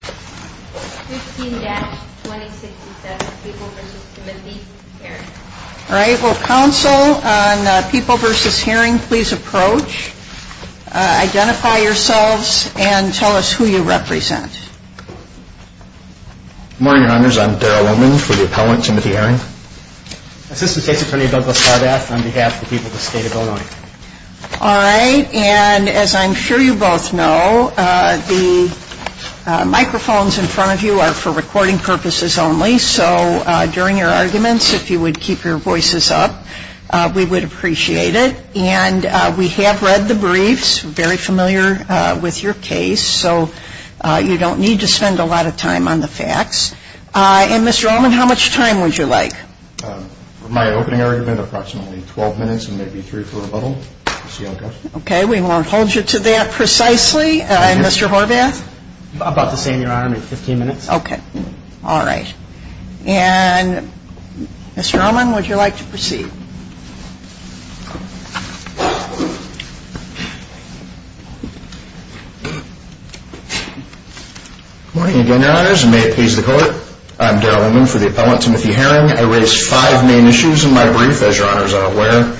15-2067 People v. Timothy Herring Council on People v. Herring please approach, identify yourselves, and tell us who you represent. Good morning, Your Honors. I'm Darryl Lowman for the appellant, Timothy Herring. Assistant State's Attorney, Douglas Harbath, on behalf of the people of the State of Illinois. All right. And as I'm sure you both know, the microphones in front of you are for recording purposes only. So during your arguments, if you would keep your voices up, we would appreciate it. And we have read the briefs, very familiar with your case, so you don't need to spend a lot of time on the facts. And Mr. Lowman, how much time would you like? My opening argument, approximately 12 minutes and maybe three for rebuttal. Okay. We won't hold you to that precisely. And Mr. Harbath? About the same, Your Honor, maybe 15 minutes. Okay. All right. And Mr. Lowman, would you like to proceed? Good morning again, Your Honors, and may it please the Court. I'm Darryl Lowman for the appellant, Timothy Herring. I raised five main issues in my brief, as Your Honors are aware,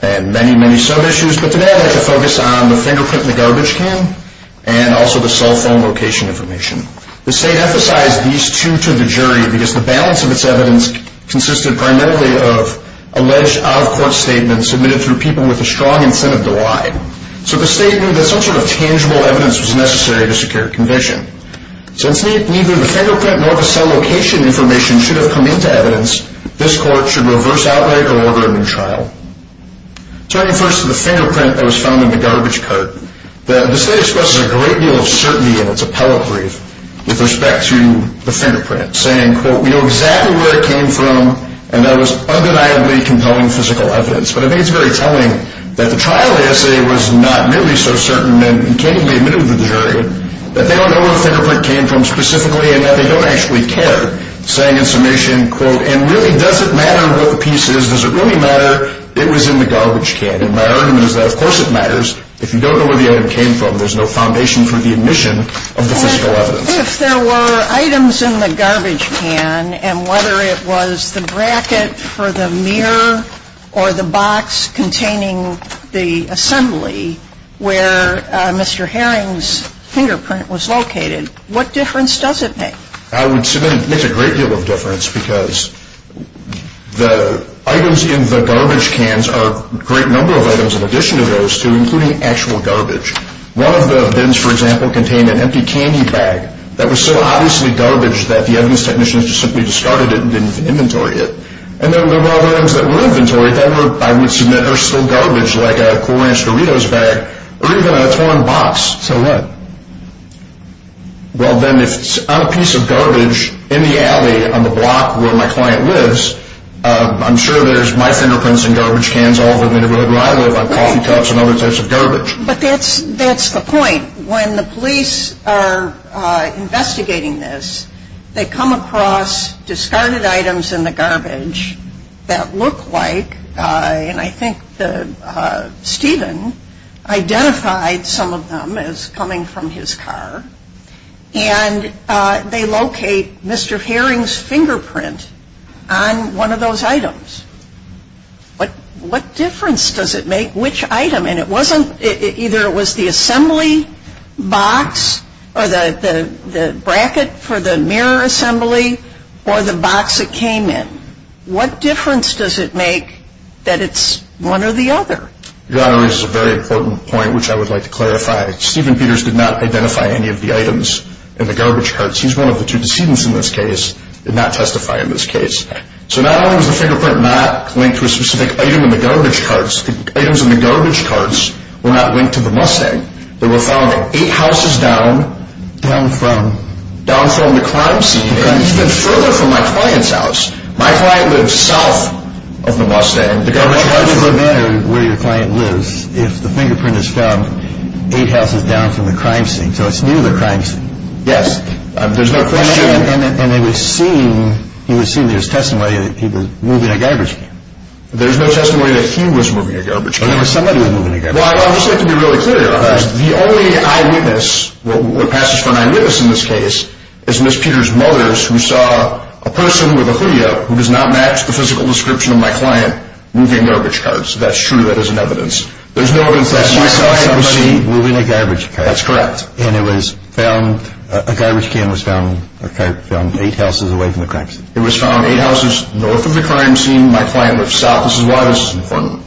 and many, many sub-issues. But today I'd like to focus on the fingerprint in the garbage can and also the cell phone location information. The State emphasized these two to the jury because the balance of its evidence consisted primarily of alleged out-of-court statements submitted through people with a strong incentive to lie. So the State knew that some sort of tangible evidence was necessary to secure a conviction. Since neither the fingerprint nor the cell location information should have come into evidence, this Court should reverse outlay or order a new trial. Turning first to the fingerprint that was found in the garbage cart, the State expresses a great deal of certainty in its appellate brief with respect to the fingerprint, saying, quote, we know exactly where it came from and that it was undeniably compelling physical evidence. But I think it's very telling that the trial essay was not nearly so certain and can't even be admitted to the jury that they don't know where the fingerprint came from specifically and that they don't actually care. Saying in summation, quote, and really does it matter what the piece is? Does it really matter? It was in the garbage can. Does it really matter? And is that of course it matters. If you don't know where the item came from, there's no foundation for the admission of the physical evidence. And if there were items in the garbage can and whether it was the bracket for the mirror or the box containing the assembly where Mr. Herring's fingerprint was located, what difference does it make? I would submit it makes a great deal of difference because the items in the garbage cans are a great number of items in addition to those two, including actual garbage. One of the bins, for example, contained an empty candy bag that was so obviously garbage that the evidence technicians just simply discarded it and didn't inventory it. And then there were other items that were inventory that I would submit are still garbage, like a Cool Ranch Doritos bag or even a torn box. So what? Well, then if I'm a piece of garbage in the alley on the block where my client lives, I'm sure there's my fingerprints in garbage cans all over the neighborhood where I live, on coffee cups and other types of garbage. But that's the point. When the police are investigating this, they come across discarded items in the garbage that look like, and I think Stephen identified some of them as coming from his car, and they locate Mr. Herring's fingerprint on one of those items. What difference does it make which item? And it wasn't, either it was the assembly box or the bracket for the mirror assembly or the box it came in. What difference does it make that it's one or the other? Your Honor raises a very important point, which I would like to clarify. Stephen Peters did not identify any of the items in the garbage carts. He's one of the two decedents in this case, did not testify in this case. So not only was the fingerprint not linked to a specific item in the garbage carts, the items in the garbage carts were not linked to the Mustang. They were found eight houses down from the crime scene and even further from my client's house. My client lives south of the Mustang. The garbage carts would matter where your client lives if the fingerprint is found eight houses down from the crime scene. So it's near the crime scene. Yes. There's no question. And they were seen, he was seen, there was testimony that he was moving a garbage can. There was no testimony that he was moving a garbage can. There was somebody who was moving a garbage can. Well, I would just like to be really clear, Your Honor, the only eyewitness, what passes for an eyewitness in this case is Ms. Peters' mother, who saw a person with a hoodie up who does not match the physical description of my client moving garbage carts. That's true. That is an evidence. There's no evidence that she saw anybody moving a garbage cart. That's correct. And it was found, a garbage can was found eight houses away from the crime scene. It was found eight houses north of the crime scene. My client lives south. This is why this is important.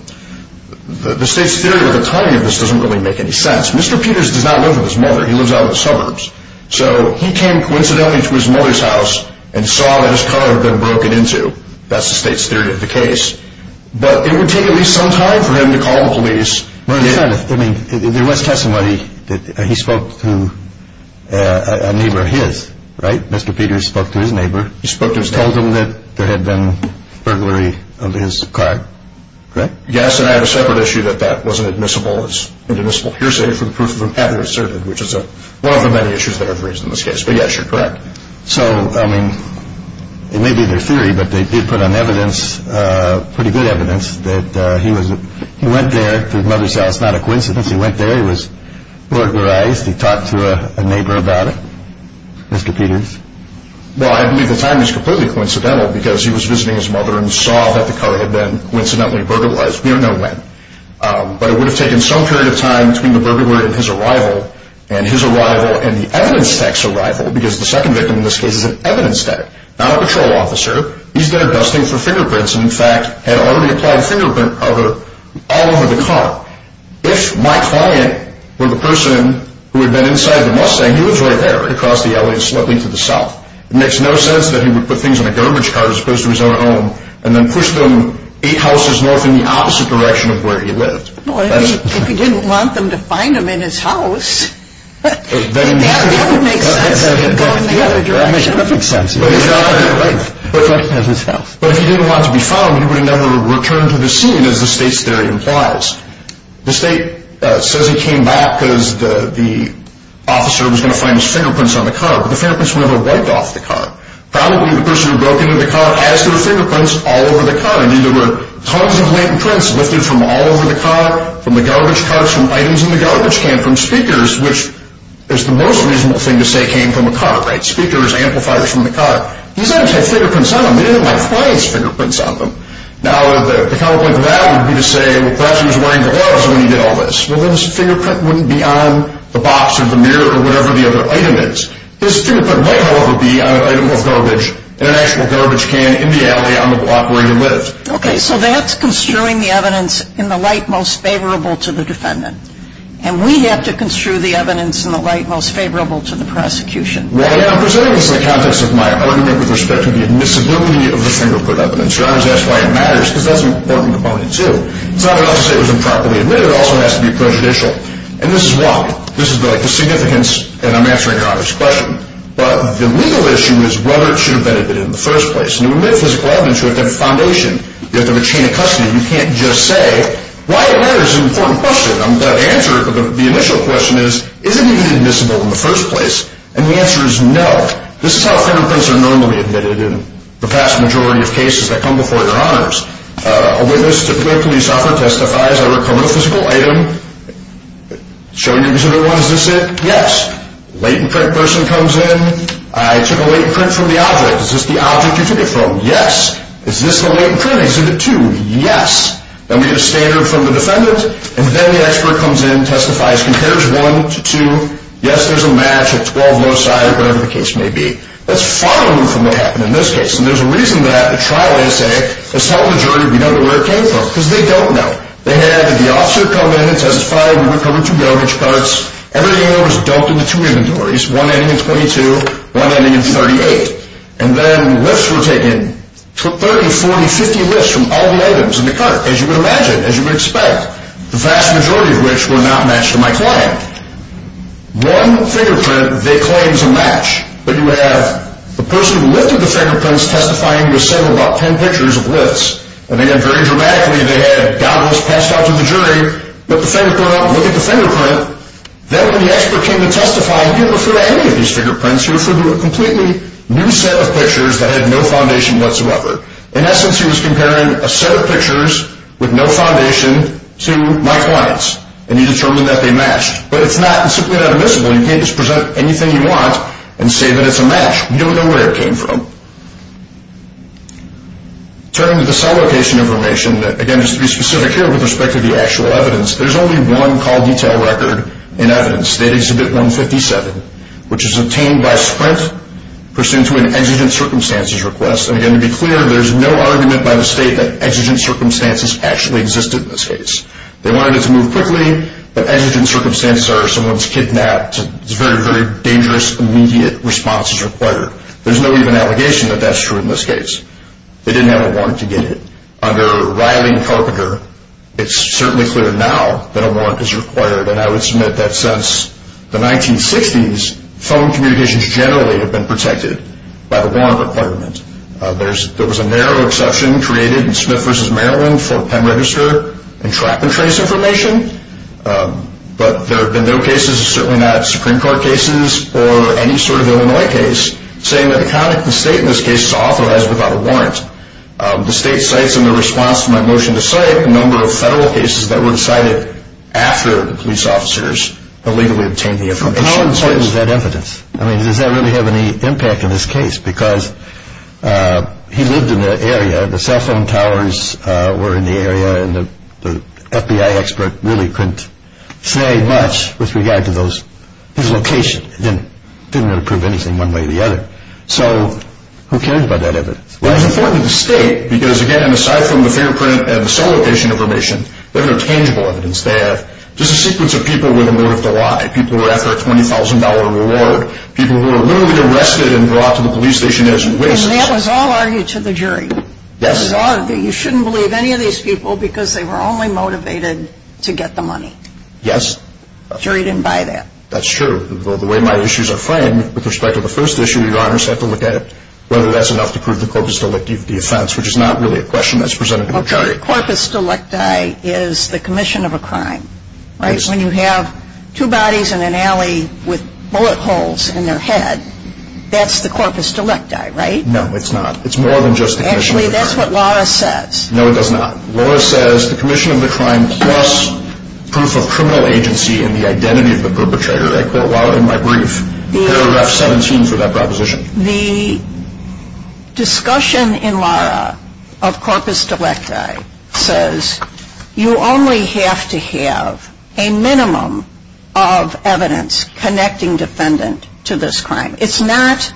The State's theory with the timing of this doesn't really make any sense. Mr. Peters does not live with his mother. He lives out in the suburbs. So he came coincidentally to his mother's house and saw that his car had been broken into. That's the State's theory of the case. But it would take at least some time for him to call the police. Your Honor, there was testimony that he spoke to a neighbor of his, right? Mr. Peters spoke to his neighbor. He spoke to his neighbor. He told him that there had been burglary of his car, correct? Yes, and I have a separate issue that that wasn't admissible. It's inadmissible hearsay for the proof of it having been asserted, which is one of the many issues that I've raised in this case. But, yes, you're correct. So, I mean, it may be their theory, but they did put on evidence, pretty good evidence, that he went there to his mother's house. Not a coincidence. He went there. He was burglarized. He talked to a neighbor about it. Mr. Peters? Well, I believe the timing is completely coincidental because he was visiting his mother and saw that the car had been coincidentally burglarized. We don't know when. But it would have taken some period of time between the burglary and his arrival, and his arrival and the evidence tech's arrival, because the second victim in this case is an evidence tech, not a patrol officer. He's there dusting for fingerprints and, in fact, had already applied fingerprint powder all over the car. If my client were the person who had been inside the Mustang, he lives right there across the alley slightly to the south. It makes no sense that he would put things in a garbage car as opposed to his own home and then push them eight houses north in the opposite direction of where he lived. Well, if he didn't want them to find them in his house, that would make sense if he had gone in the other direction. That would make perfect sense. But if he didn't want to be found, he would have never returned to the scene, as the state's theory implies. The state says he came back because the officer was going to find his fingerprints on the car, but the fingerprints were never wiped off the car. Probably the person who broke into the car has their fingerprints all over the car. I mean, there were tons of latent prints lifted from all over the car, from the garbage carts, from items in the garbage can, from speakers, which is the most reasonable thing to say came from a car. Right. Speakers, amplifiers from the car. These items had fingerprints on them. They didn't have my client's fingerprints on them. Now, the counterpoint to that would be to say, well, perhaps he was wearing gloves when he did all this. Well, then his fingerprint wouldn't be on the box or the mirror or whatever the other item is. His fingerprint might, however, be on an item of garbage, in an actual garbage can in the alley on the block where he lived. Okay. So that's construing the evidence in the light most favorable to the defendant. And we have to construe the evidence in the light most favorable to the prosecution. Well, yeah. I'm presenting this in the context of my argument with respect to the admissibility of the fingerprint evidence. You always ask why it matters, because that's an important component, too. It's not enough to say it was improperly admitted. It also has to be prejudicial. And this is why. This is the significance, and I'm answering your obvious question. But the legal issue is whether it should have been admitted in the first place. And to admit a physical evidence, you have to have a foundation. You have to have a chain of custody. You can't just say why it matters is an important question. The answer to the initial question is, is it even admissible in the first place? And the answer is no. This is how fingerprints are normally admitted in the vast majority of cases that come before your honors. A witness to a police officer testifies over a criminal physical item, showing you exhibit 1, is this it? Yes. Latent print person comes in. I took a latent print from the object. Is this the object you took it from? Yes. Is this the latent print in exhibit 2? Yes. Then we get a standard from the defendant. And then the expert comes in, testifies, compares 1 to 2. Yes, there's a match at 12 loci, whatever the case may be. That's far removed from what happened in this case. And there's a reason that a trial essay has told the majority we know where it came from. Because they don't know. They had the officer come in and testify. We were coming to garbage carts. Everything there was dumped into two inventories, one ending in 22, one ending in 38. And then lifts were taken, 30, 40, 50 lifts from all the items in the cart, as you would imagine, as you would expect, the vast majority of which were not matched to my client. One fingerprint they claim is a match, but you have the person who lifted the fingerprints testifying to a set of about 10 pictures of lifts. And again, very dramatically, they had goggles passed out to the jury, let the finger point out, look at the fingerprint. Then when the expert came to testify, he didn't refer to any of these fingerprints. He referred to a completely new set of pictures that had no foundation whatsoever. In essence, he was comparing a set of pictures with no foundation to my client's. And he determined that they matched. But it's not, it's simply not admissible. You can't just present anything you want and say that it's a match. You don't know where it came from. Turning to the cell location information, again, just to be specific here with respect to the actual evidence, there's only one call detail record in evidence, State Exhibit 157, which is obtained by Sprint pursuant to an exigent circumstances request. And again, to be clear, there's no argument by the State that exigent circumstances actually existed in this case. They wanted it to move quickly, but exigent circumstances are someone's kidnapped. It's a very, very dangerous, immediate response is required. There's no even allegation that that's true in this case. They didn't have a warrant to get it. Under Riley and Carpenter, it's certainly clear now that a warrant is required. And I would submit that since the 1960s, phone communications generally have been protected by the warrant requirement. There was a narrow exception created in Smith v. Maryland for PEM register and trap and trace information. But there have been no cases, certainly not Supreme Court cases or any sort of Illinois case, saying that the conduct of the State in this case is authorized without a warrant. The State cites in the response to my motion to cite a number of federal cases that were decided after the police officers illegally obtained the information. And how important is that evidence? I mean, does that really have any impact in this case? Because he lived in the area, the cell phone towers were in the area, and the FBI expert really couldn't say much with regard to his location. He didn't want to prove anything one way or the other. So who cared about that evidence? Well, it was important to state because, again, aside from the fingerprint and the cell location information, there's no tangible evidence there. Just a sequence of people with a motive to lie. People who were after a $20,000 reward. People who were literally arrested and brought to the police station as wastes. And that was all argued to the jury? Yes. You shouldn't believe any of these people because they were only motivated to get the money? Yes. The jury didn't buy that? That's true. The way my issues are framed with respect to the first issue, your honors have to look at whether that's enough to prove the corpus delicti of the offense, which is not really a question that's presented to the jury. Okay. The corpus delicti is the commission of a crime, right? When you have two bodies in an alley with bullet holes in their head, that's the corpus delicti, right? No, it's not. It's more than just the commission of the crime. Actually, that's what Laura says. No, it does not. Laura says the commission of the crime plus proof of criminal agency and the identity of the perpetrator. I quote Laura in my brief, paragraph 17 for that proposition. The discussion in Laura of corpus delicti says you only have to have a minimum of evidence connecting defendant to this crime. It's not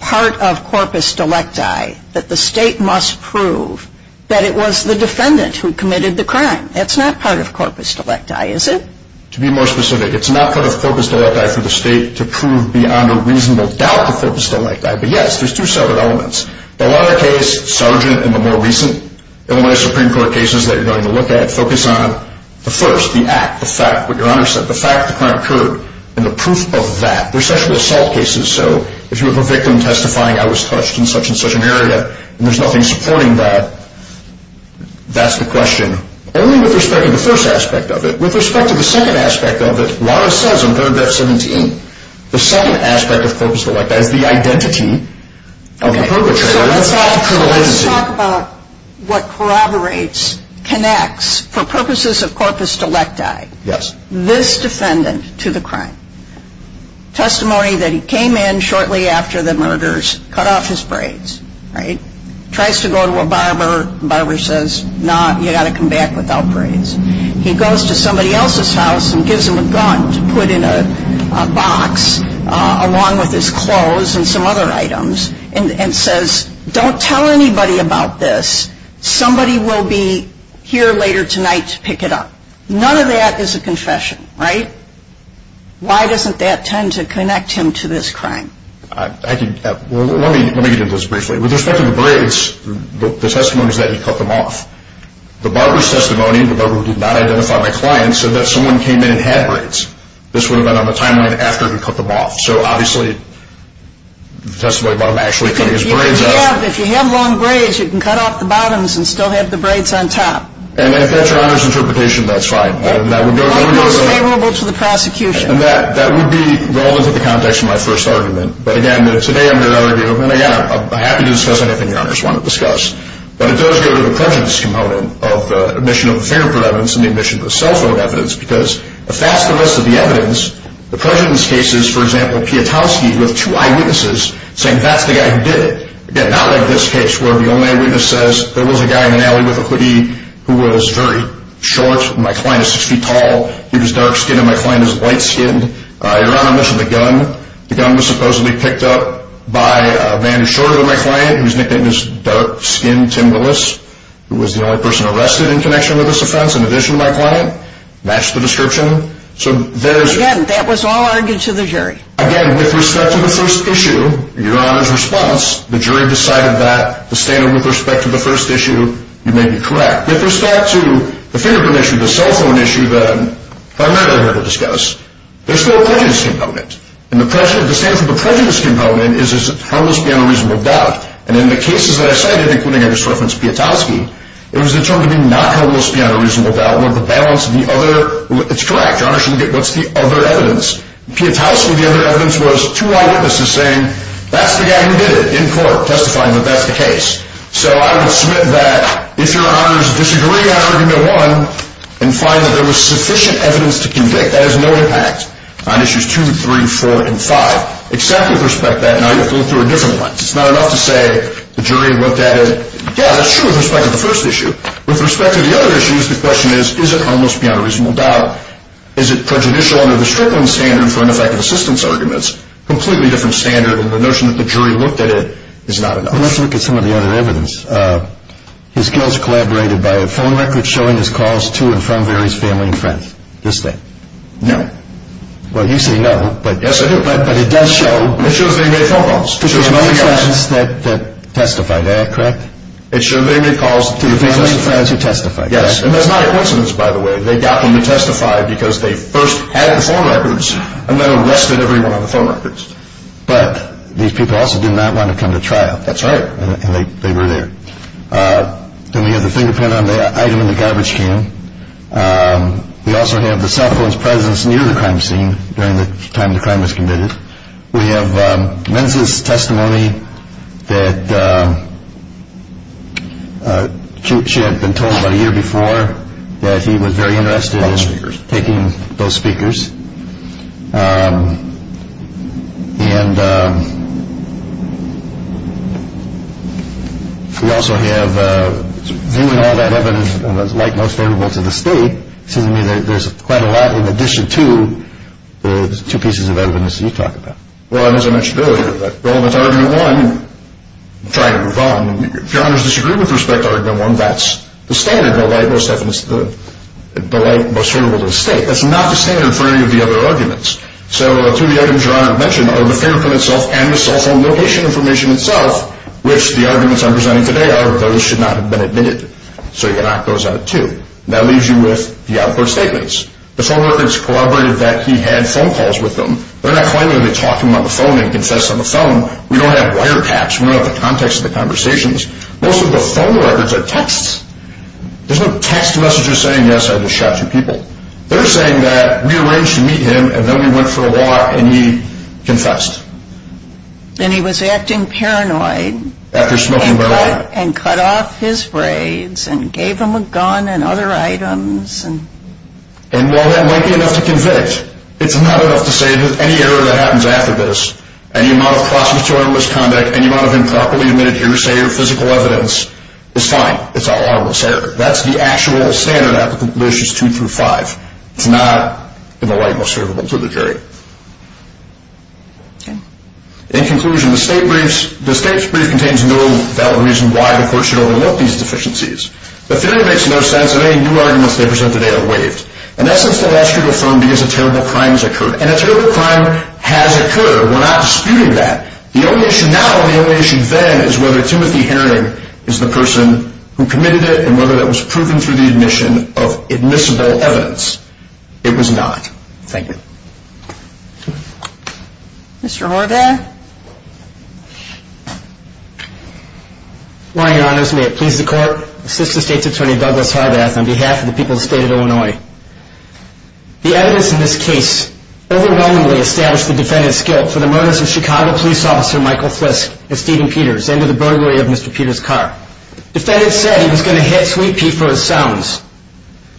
part of corpus delicti that the state must prove that it was the defendant who committed the crime. That's not part of corpus delicti, is it? To be more specific, it's not part of corpus delicti for the state to prove beyond a reasonable doubt the corpus delicti. But, yes, there's two separate elements. The latter case, Sargent, and the more recent Illinois Supreme Court cases that you're going to look at focus on the first, the act, the fact, what your honors said, the fact the crime occurred and the proof of that. They're sexual assault cases. So if you have a victim testifying I was touched in such and such an area and there's nothing supporting that, that's the question. Only with respect to the first aspect of it. With respect to the second aspect of it, Laura says in paragraph 17, the second aspect of corpus delicti is the identity of the perpetrator. So let's talk about what corroborates, connects, for purposes of corpus delicti, this defendant to the crime. Testimony that he came in shortly after the murders, cut off his braids, right? Tries to go to a barber. Barber says, nah, you got to come back without braids. He goes to somebody else's house and gives him a gun to put in a box along with his clothes and some other items and says, don't tell anybody about this. Somebody will be here later tonight to pick it up. None of that is a confession, right? Why doesn't that tend to connect him to this crime? Let me get into this briefly. With respect to the braids, the testimony is that he cut them off. The barber's testimony, the barber who did not identify my client, said that someone came in and had braids. This would have been on the timeline after he cut them off. So obviously the testimony about him actually cutting his braids off. If you have long braids you can cut off the bottoms and still have the braids on top. And if that's your Honor's interpretation, that's fine. The line goes favorable to the prosecution. That would be relevant to the context of my first argument. But again, today I'm here to argue, and again, I'm happy to discuss anything your Honor's want to discuss, but it does go to the prejudice component of the admission of the fingerprint evidence and the admission of the cell phone evidence because if that's the rest of the evidence, the prejudice case is, for example, Piotrowski with two eyewitnesses saying that's the guy who did it. Again, not like this case where the only eyewitness says there was a guy in an alley with a hoodie who was very short, my client is six feet tall, he was dark skinned, and my client is light skinned. Your Honor, I mentioned the gun. The gun was supposedly picked up by a man who's shorter than my client, who's nicknamed as dark skinned Tim Willis, who was the only person arrested in connection with this offense in addition to my client. Again, that was all argued to the jury. Again, with respect to the first issue, your Honor's response, the jury decided that the standard with respect to the first issue, you may be correct. With respect to the fingerprint issue, the cell phone issue that I'm not here to discuss, there's still a prejudice component. And the standard for the prejudice component is harmless beyond a reasonable doubt. And in the cases that I cited, including I just referenced Piotrowski, it was determined to be not harmless beyond a reasonable doubt. One, the balance of the other, it's correct. Your Honor shouldn't get what's the other evidence. Piotrowski, the other evidence was two eyewitnesses saying, that's the guy who did it in court, testifying that that's the case. So I would submit that if your Honor is disagreeing on argument one, and find that there was sufficient evidence to convict, that has no impact on issues two, three, four, and five, except with respect to that, now you have to look through a different one. It's not enough to say the jury looked at it, yeah, that's true with respect to the first issue. With respect to the other issues, the question is, is it harmless beyond a reasonable doubt? Is it prejudicial under the Strickland standard for ineffective assistance arguments? Completely different standard, and the notion that the jury looked at it is not enough. Let's look at some of the other evidence. His girls collaborated by a phone record showing his calls to and from various family and friends. This thing. No. Well, you say no. Yes, I do. But it does show. It shows they made phone calls. It shows they made calls. It shows they made calls that testified, correct? It shows they made calls to the families and friends who testified. Yes, and that's not a coincidence, by the way. They got them to testify because they first had the phone records and then arrested everyone on the phone records. But these people also did not want to come to trial. That's right. And they were there. Then we have the fingerprint on the item in the garbage can. We also have the cell phone's presence near the crime scene during the time the crime was committed. We have men's testimony that she had been told about a year before that he was very interested in taking those speakers. And we also have, viewing all that evidence as like most veritable to the state, it seems to me that there's quite a lot in addition to the two pieces of evidence that you talk about. Well, it isn't much good. Well, that's argument one. I'm trying to move on. If your Honor's disagreeing with respect to argument one, that's the standard, the like most veritable to the state. That's not the standard for any of the other arguments. So two of the items Your Honor mentioned are the fingerprint itself and the cell phone location information itself, which the arguments I'm presenting today are those should not have been admitted. So you can act those out too. That leaves you with the output statements. The phone records corroborated that he had phone calls with them. They're not claiming they talked to him on the phone and confessed on the phone. We don't have wiretaps. We don't have the context of the conversations. Most of the phone records are texts. There's no text messages saying, yes, I just shot two people. They're saying that we arranged to meet him, and then we went for a walk, and he confessed. And he was acting paranoid. After smoking marijuana. And cut off his braids and gave him a gun and other items. And while that might be enough to convict, it's not enough to say that any error that happens after this, any amount of process to armless conduct, any amount of improperly admitted hearsay or physical evidence is fine. It's an armless error. That's the actual standard, Applicant Relations 2 through 5. It's not in the light most favorable to the jury. In conclusion, the state's brief contains no valid reason why the court should overlook these deficiencies. The theory makes no sense, and any new arguments they present today are waived. In essence, the law should affirm because a terrible crime has occurred. And a terrible crime has occurred. We're not disputing that. The only issue now and the only issue then is whether Timothy Herring is the person who committed it and whether that was proven through the admission of admissible evidence. It was not. Thank you. Mr. Horvath? Good morning, Your Honors. May it please the Court. Assistant State's Attorney, Douglas Horvath, on behalf of the people of the State of Illinois. The evidence in this case overwhelmingly established the defendant's guilt for the murders of Chicago police officer Defendant said he was going to hit Sweet Pea for his sounds.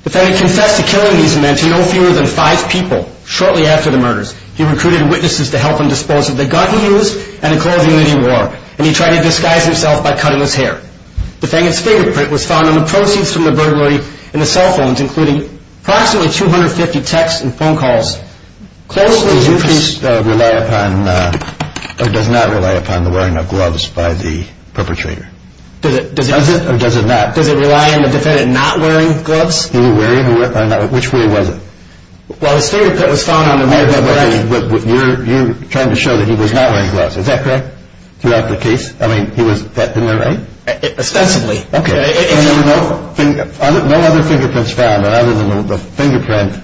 Defendant confessed to killing these men to no fewer than five people shortly after the murders. He recruited witnesses to help him dispose of the gun he used and the clothing that he wore. And he tried to disguise himself by cutting his hair. Defendant's fingerprint was found on the proceeds from the burglary in the cell phones, including approximately 250 texts and phone calls. Does your case rely upon or does not rely upon the wearing of gloves by the perpetrator? Does it or does it not? Does it rely on the defendant not wearing gloves? Did he wear any? Which way was it? Well, his fingerprint was found on the murder weapon. You're trying to show that he was not wearing gloves. Is that correct throughout the case? I mean, he was, isn't that right? Ostensibly. Okay. And there were no other fingerprints found other than the fingerprint,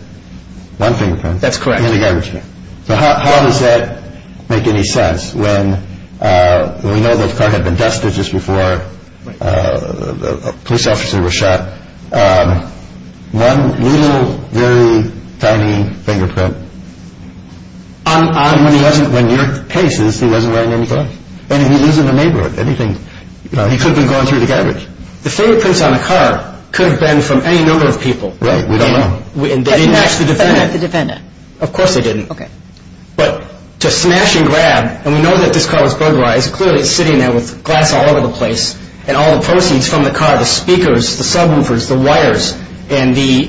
one fingerprint. That's correct. In the garbage bin. So how does that make any sense when we know the car had been dusted just before a police officer was shot. One little, very tiny fingerprint. And when he wasn't, in your cases, he wasn't wearing any gloves. And he lives in the neighborhood. He could be going through the garbage. The fingerprints on the car could have been from any number of people. Right, we don't know. And they didn't match the defendant. They didn't match the defendant. Of course they didn't. Okay. But to smash and grab, and we know that this car was burglarized, clearly it's sitting there with glass all over the place and all the proceeds from the car, the speakers, the subwoofers, the wires, and the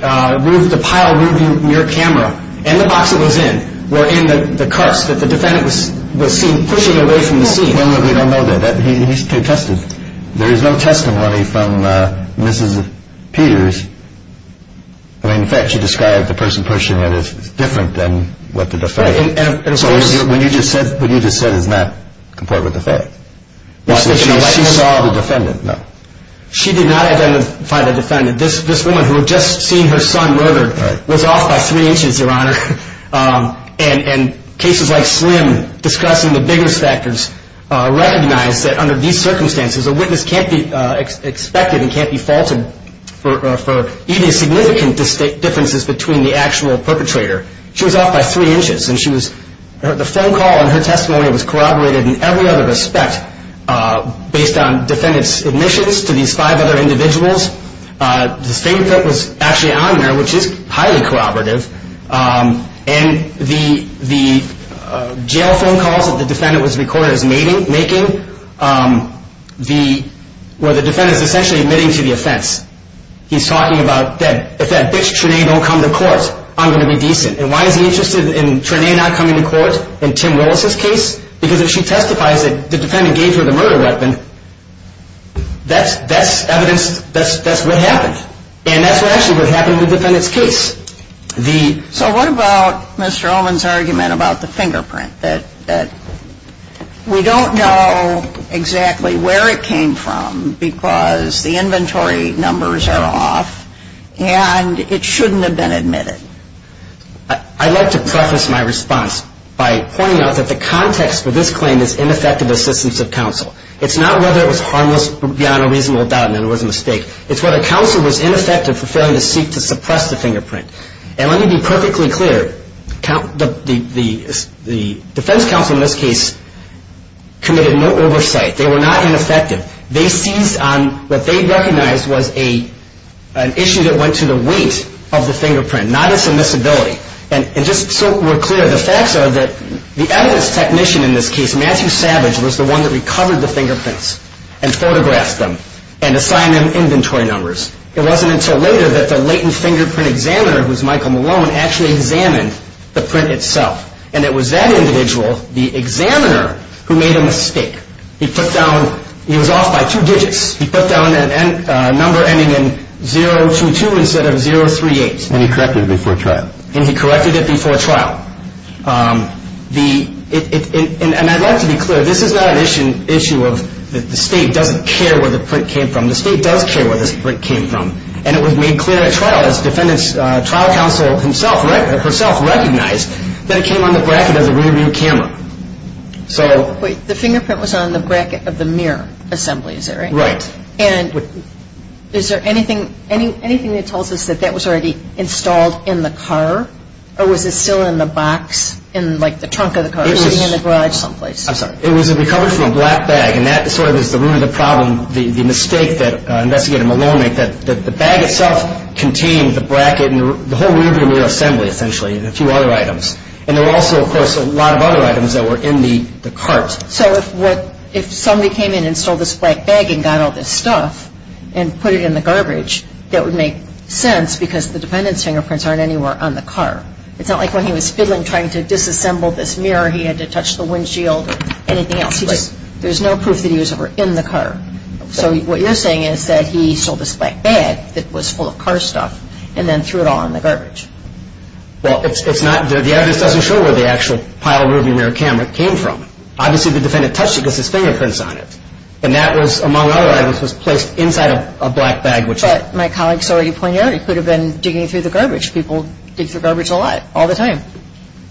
pile moving your camera, and the box it was in, were in the carts that the defendant was seen pushing away from the scene. Well, we don't know that. He tested. There is no testimony from Mrs. Peters. I mean, in fact, she described the person pushing it as different than what the defendant. So what you just said is not in accord with the facts. She saw the defendant. No. She did not identify the defendant. This woman who had just seen her son murdered was off by three inches, Your Honor. And cases like Slim, discussing the biggest factors, recognized that under these circumstances a witness can't be expected and can't be faulted for even significant differences between the actual perpetrator. She was off by three inches. And the phone call and her testimony was corroborated in every other respect based on defendant's admissions to these five other individuals. The statement that was actually on there, which is highly corroborative, and the jail phone calls that the defendant was recorded as making, where the defendant is essentially admitting to the offense. He's talking about, if that bitch, Trinae, don't come to court, I'm going to be decent. And why is he interested in Trinae not coming to court in Tim Willis's case? Because if she testifies that the defendant gave her the murder weapon, that's evidence, that's what happened. And that's actually what happened in the defendant's case. So what about Mr. Ullman's argument about the fingerprint? That we don't know exactly where it came from because the inventory numbers are off and it shouldn't have been admitted. I'd like to preface my response by pointing out that the context for this claim is ineffective assistance of counsel. It's not whether it was harmless beyond a reasonable doubt and it was a mistake. It's whether counsel was ineffective for failing to seek to suppress the fingerprint. And let me be perfectly clear, the defense counsel in this case committed no oversight. They were not ineffective. They seized on what they recognized was an issue that went to the weight of the fingerprint, not its admissibility. And just so we're clear, the facts are that the evidence technician in this case, Matthew Savage, was the one that recovered the fingerprints and photographed them and assigned them inventory numbers. It wasn't until later that the latent fingerprint examiner, who was Michael Malone, actually examined the print itself. And it was that individual, the examiner, who made a mistake. He was off by two digits. He put down a number ending in 022 instead of 038. And he corrected it before trial. And he corrected it before trial. And I'd like to be clear, this is not an issue of the state doesn't care where the print came from. The state does care where this print came from. And it was made clear at trial. The trial counsel herself recognized that it came on the bracket of the rear view camera. So the fingerprint was on the bracket of the mirror assembly, is that right? Right. And is there anything that tells us that that was already installed in the car or was it still in the box in, like, the trunk of the car, sitting in the garage someplace? I'm sorry. It was recovered from a black bag. And that sort of is the root of the problem, the mistake that Investigator Malone made, that the bag itself contained the bracket and the whole rear view mirror assembly, essentially, and a few other items. And there were also, of course, a lot of other items that were in the cart. So if somebody came in and stole this black bag and got all this stuff and put it in the garbage, that would make sense because the defendant's fingerprints aren't anywhere on the car. It's not like when he was fiddling, trying to disassemble this mirror, he had to touch the windshield or anything else. There's no proof that he was ever in the car. So what you're saying is that he stole this black bag that was full of car stuff and then threw it all in the garbage. Well, it's not – the evidence doesn't show where the actual pile of rear view mirror camera came from. Obviously, the defendant touched it because his fingerprint's on it. And that was, among other items, was placed inside of a black bag. But my colleagues already pointed out he could have been digging through the garbage. People dig through garbage a lot, all the time.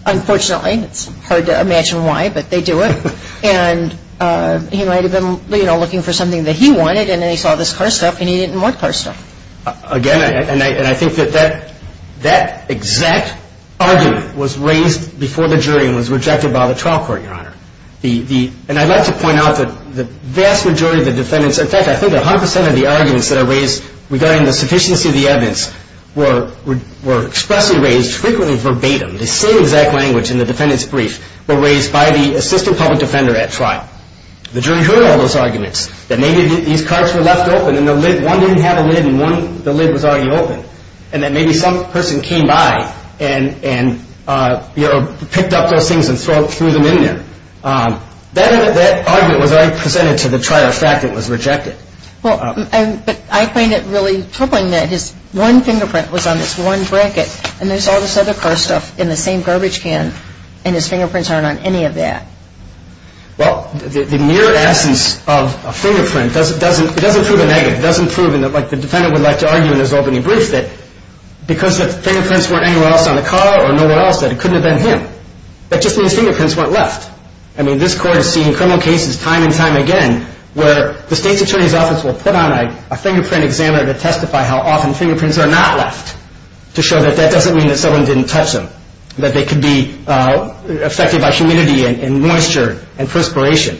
Unfortunately, it's hard to imagine why, but they do it. And he might have been, you know, looking for something that he wanted, and then he saw this car stuff and he didn't want car stuff. Again, and I think that that exact argument was raised before the jury and was rejected by the trial court, Your Honor. And I'd like to point out that the vast majority of the defendants – regarding the sufficiency of the evidence – were expressly raised, frequently verbatim, the same exact language in the defendant's brief, were raised by the assistant public defender at trial. The jury heard all those arguments, that maybe these cars were left open and one didn't have a lid and the lid was already open, and that maybe some person came by and, you know, picked up those things and threw them in there. That argument was already presented to the trial for the fact that it was rejected. But I find it really troubling that his one fingerprint was on this one bracket and there's all this other car stuff in the same garbage can and his fingerprints aren't on any of that. Well, the mere absence of a fingerprint doesn't prove a negative. It doesn't prove, like the defendant would like to argue in his opening brief, that because the fingerprints weren't anywhere else on the car or nowhere else, that it couldn't have been him. That just means fingerprints weren't left. I mean, this Court has seen criminal cases time and time again where the State's Attorney's Office will put on a fingerprint examiner to testify how often fingerprints are not left to show that that doesn't mean that someone didn't touch them, that they could be affected by humidity and moisture and perspiration.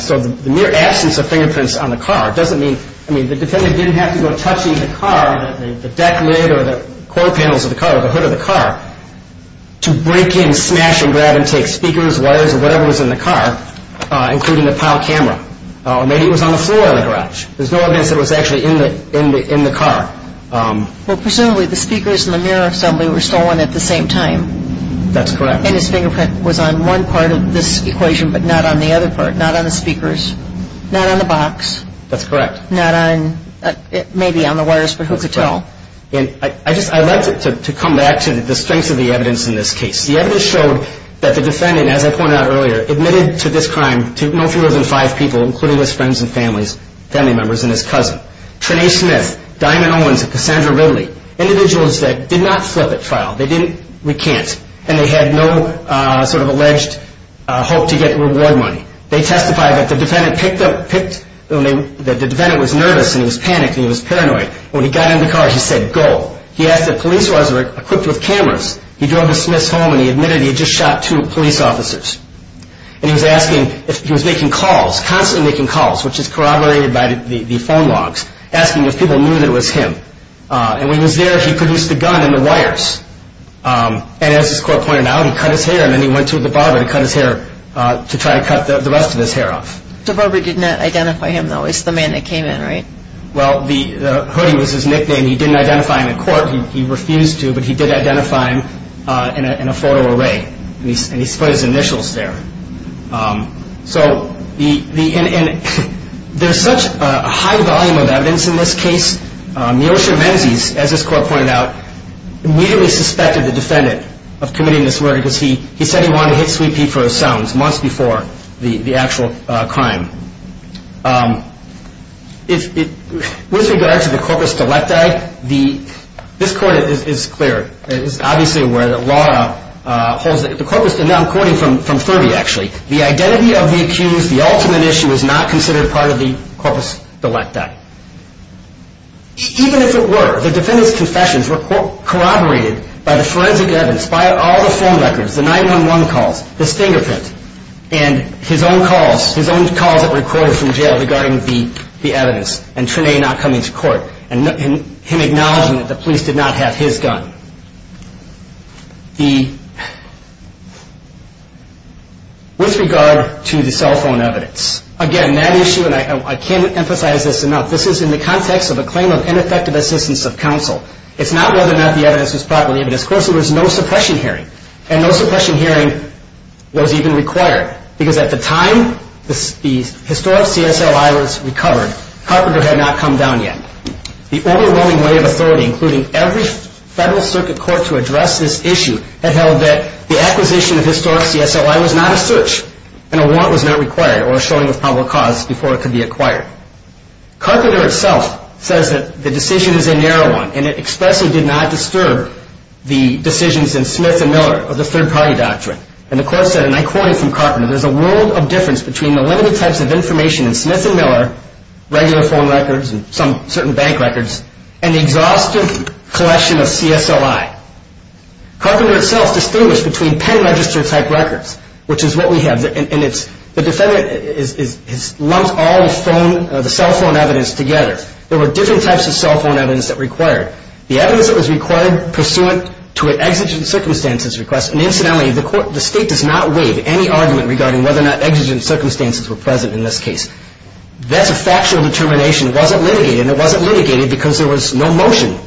So the mere absence of fingerprints on the car doesn't mean, I mean, the defendant didn't have to go touching the car, the deck lid or the core panels of the car or the hood of the car, to break in, smash and grab and take speakers, wires or whatever was in the car, including the PAL camera. Or maybe it was on the floor of the garage. There's no evidence that it was actually in the car. Well, presumably the speakers and the mirror assembly were stolen at the same time. That's correct. And his fingerprint was on one part of this equation but not on the other part, not on the speakers, not on the box. That's correct. Not on, maybe on the wires, but who could tell? And I'd like to come back to the strengths of the evidence in this case. The evidence showed that the defendant, as I pointed out earlier, admitted to this crime to no fewer than five people, including his friends and family members and his cousin. Trinae Smith, Diamond Owens, and Cassandra Ridley, individuals that did not flip at trial, they didn't recant, and they had no sort of alleged hope to get reward money. They testified that the defendant was nervous and he was panicked and he was paranoid. When he got in the car, he said, go. He asked if police were equipped with cameras. He drove to Smith's home and he admitted he had just shot two police officers. And he was asking if he was making calls, constantly making calls, which is corroborated by the phone logs, asking if people knew that it was him. And when he was there, he produced the gun and the wires. And as his court pointed out, he cut his hair and then he went to the barber to cut his hair to try to cut the rest of his hair off. The barber did not identify him, though. It's the man that came in, right? Well, the hoodie was his nickname. He didn't identify him in court. He refused to, but he did identify him in a photo array. And he put his initials there. So there's such a high volume of evidence in this case. Neosha Menzies, as his court pointed out, immediately suspected the defendant of committing this murder because he said he wanted to hit Sweet Pea for his sounds months before the actual crime. With regard to the corpus delicti, this court is clear. It is obviously aware that the law holds that the corpus delicti, and now I'm quoting from Furby, actually, the identity of the accused, the ultimate issue, is not considered part of the corpus delicti. Even if it were, the defendant's confessions were corroborated by the forensic evidence, by all the phone records, the 911 calls, his fingerprint, and his own calls that were recorded from jail regarding the evidence and Trinae not coming to court and him acknowledging that the police did not have his gun. With regard to the cell phone evidence, again, that issue, and I can't emphasize this enough, this is in the context of a claim of ineffective assistance of counsel. It's not whether or not the evidence was properly evidenced. Of course, there was no suppression hearing, and no suppression hearing was even required because at the time the historic CSLI was recovered, Carpenter had not come down yet. The overwhelming weight of authority, including every federal circuit court to address this issue, had held that the acquisition of historic CSLI was not a search and a warrant was not required or a showing of probable cause before it could be acquired. Carpenter itself says that the decision is a narrow one and it expressly did not disturb the decisions in Smith and Miller of the third-party doctrine. And the court said, and I quote him from Carpenter, there's a world of difference between the limited types of information in Smith and Miller, regular phone records and some certain bank records, and the exhaustive collection of CSLI. Carpenter itself distinguished between pen register type records, which is what we have, and the defendant has lumped all the cell phone evidence together. There were different types of cell phone evidence that were required. The evidence that was required pursuant to an exigent circumstances request, and incidentally, the state does not waive any argument regarding whether or not exigent circumstances were present in this case. That's a factual determination. It wasn't litigated, and it wasn't litigated because there was no motion,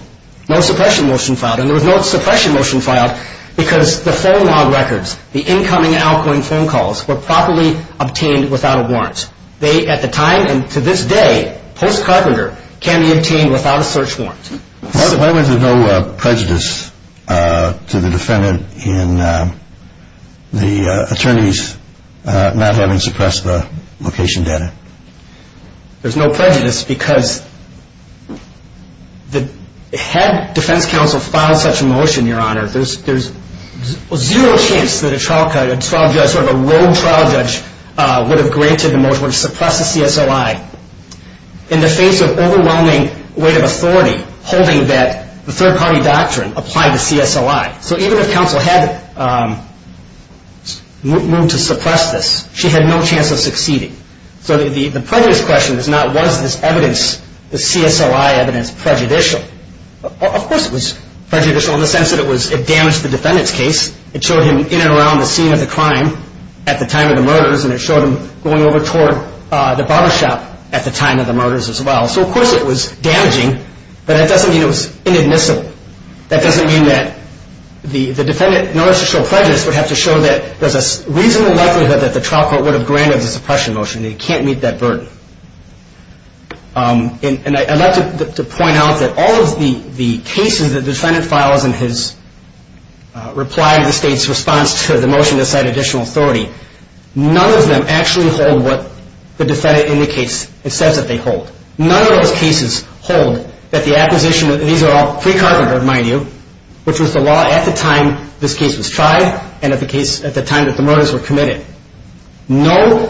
no suppression motion filed, and there was no suppression motion filed because the phone log records, the incoming Alcoin phone calls, were properly obtained without a warrant. They, at the time and to this day, post-Carpenter, can be obtained without a search warrant. Why was there no prejudice to the defendant in the attorneys not having suppressed the location data? There's no prejudice because had defense counsel filed such a motion, Your Honor, there's zero chance that a trial judge, sort of a rogue trial judge, would have granted the motion to suppress the CSOI in the face of overwhelming weight of authority holding that the third-party doctrine applied to CSOI. So even if counsel had moved to suppress this, she had no chance of succeeding. So the prejudice question is not was this evidence, the CSOI evidence, prejudicial. Of course it was prejudicial in the sense that it damaged the defendant's case. It showed him in and around the scene of the crime at the time of the murders, and it showed him going over toward the barbershop at the time of the murders as well. So of course it was damaging, but that doesn't mean it was inadmissible. That doesn't mean that the defendant, in order to show prejudice, would have to show that there's a reasonable likelihood that the trial court would have granted the suppression motion. It can't meet that burden. And I'd like to point out that all of the cases that the defendant files in his reply to the state's response to the motion to cite additional authority, none of them actually hold what the defendant indicates it says that they hold. None of those cases hold that the acquisition, these are all pre-carpenter, mind you, which was the law at the time this case was tried and at the time that the murders were committed. None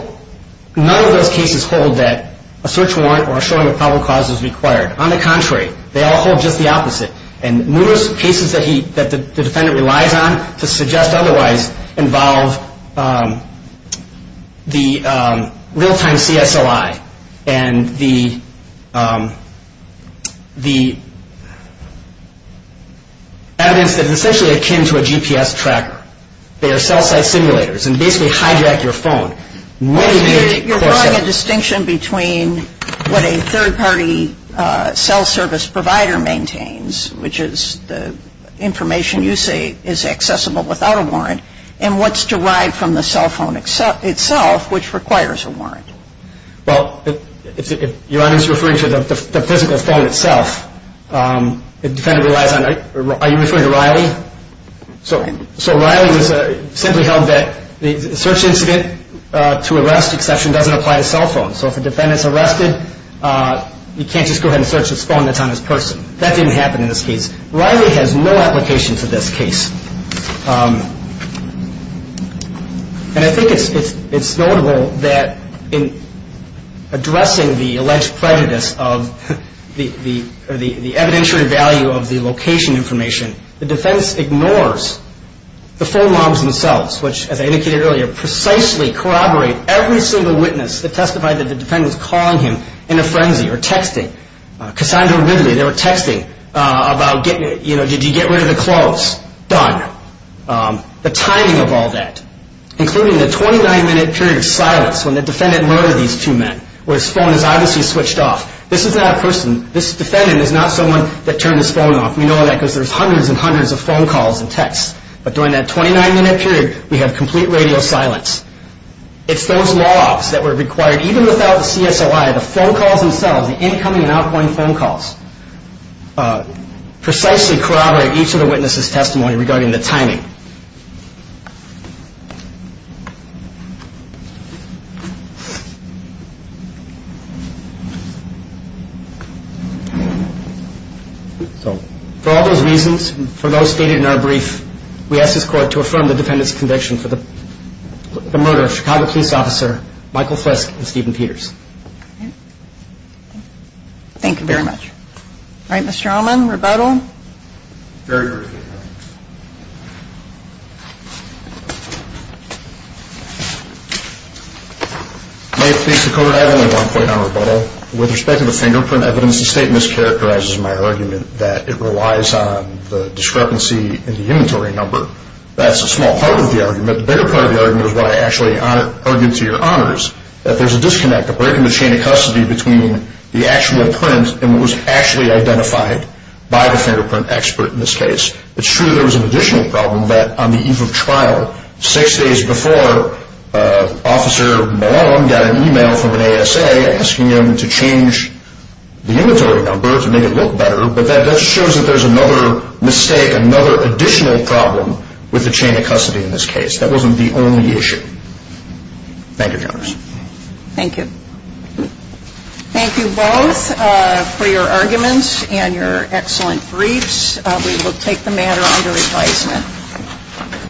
of those cases hold that a search warrant or a showing of probable cause is required. On the contrary, they all hold just the opposite. And numerous cases that the defendant relies on to suggest otherwise involve the real-time CSLI and the evidence that is essentially akin to a GPS tracker. They are cell-site simulators and basically hijack your phone. You're drawing a distinction between what a third-party cell service provider maintains, which is the information you say is accessible without a warrant, and what's derived from the cell phone itself, which requires a warrant. Well, if you're referring to the physical phone itself, the defendant relies on, are you referring to Riley? So Riley simply held that the search incident to arrest exception doesn't apply to cell phones. So if a defendant is arrested, you can't just go ahead and search this phone that's on this person. That didn't happen in this case. Riley has no application to this case. And I think it's notable that in addressing the alleged prejudice of the evidentiary value of the location information, the defense ignores the phone logs themselves, which, as I indicated earlier, precisely corroborate every single witness that testified that the defendant was calling him in a frenzy or texting. Cassandra Ridley, they were texting about, you know, did you get rid of the clothes? Done. The timing of all that, including the 29-minute period of silence when the defendant murdered these two men, where his phone is obviously switched off. This is not a person. This defendant is not someone that turned his phone off. We know that because there's hundreds and hundreds of phone calls and texts. But during that 29-minute period, we have complete radio silence. It's those logs that were required, even without the CSOI, the phone calls themselves, the incoming and outgoing phone calls, precisely corroborate each of the witnesses' testimony regarding the timing. So for all those reasons, for those stated in our brief, we ask this court to affirm the defendant's conviction for the murder of Chicago police officer Michael Fisk and Stephen Peters. Thank you very much. All right, Mr. Allman, rebuttal? Very early. May it please the court, I have only one point on rebuttal. With respect to the fingerprint evidence, the statement mischaracterizes my argument that it relies on the discrepancy in the inventory number. That's a small part of the argument. The bigger part of the argument is what I actually argued to your honors, that there's a disconnect, a break in the chain of custody between the actual print and what was actually identified by the fingerprint expert in this case. It's true there was an additional problem that on the eve of trial, six days before, Officer Malone got an email from an ASA asking him to change the inventory number to make it look better, but that just shows that there's another mistake, another additional problem with the chain of custody in this case. That wasn't the only issue. Thank you, your honors. Thank you. Thank you both for your arguments and your excellent briefs. We will take the matter under advisement.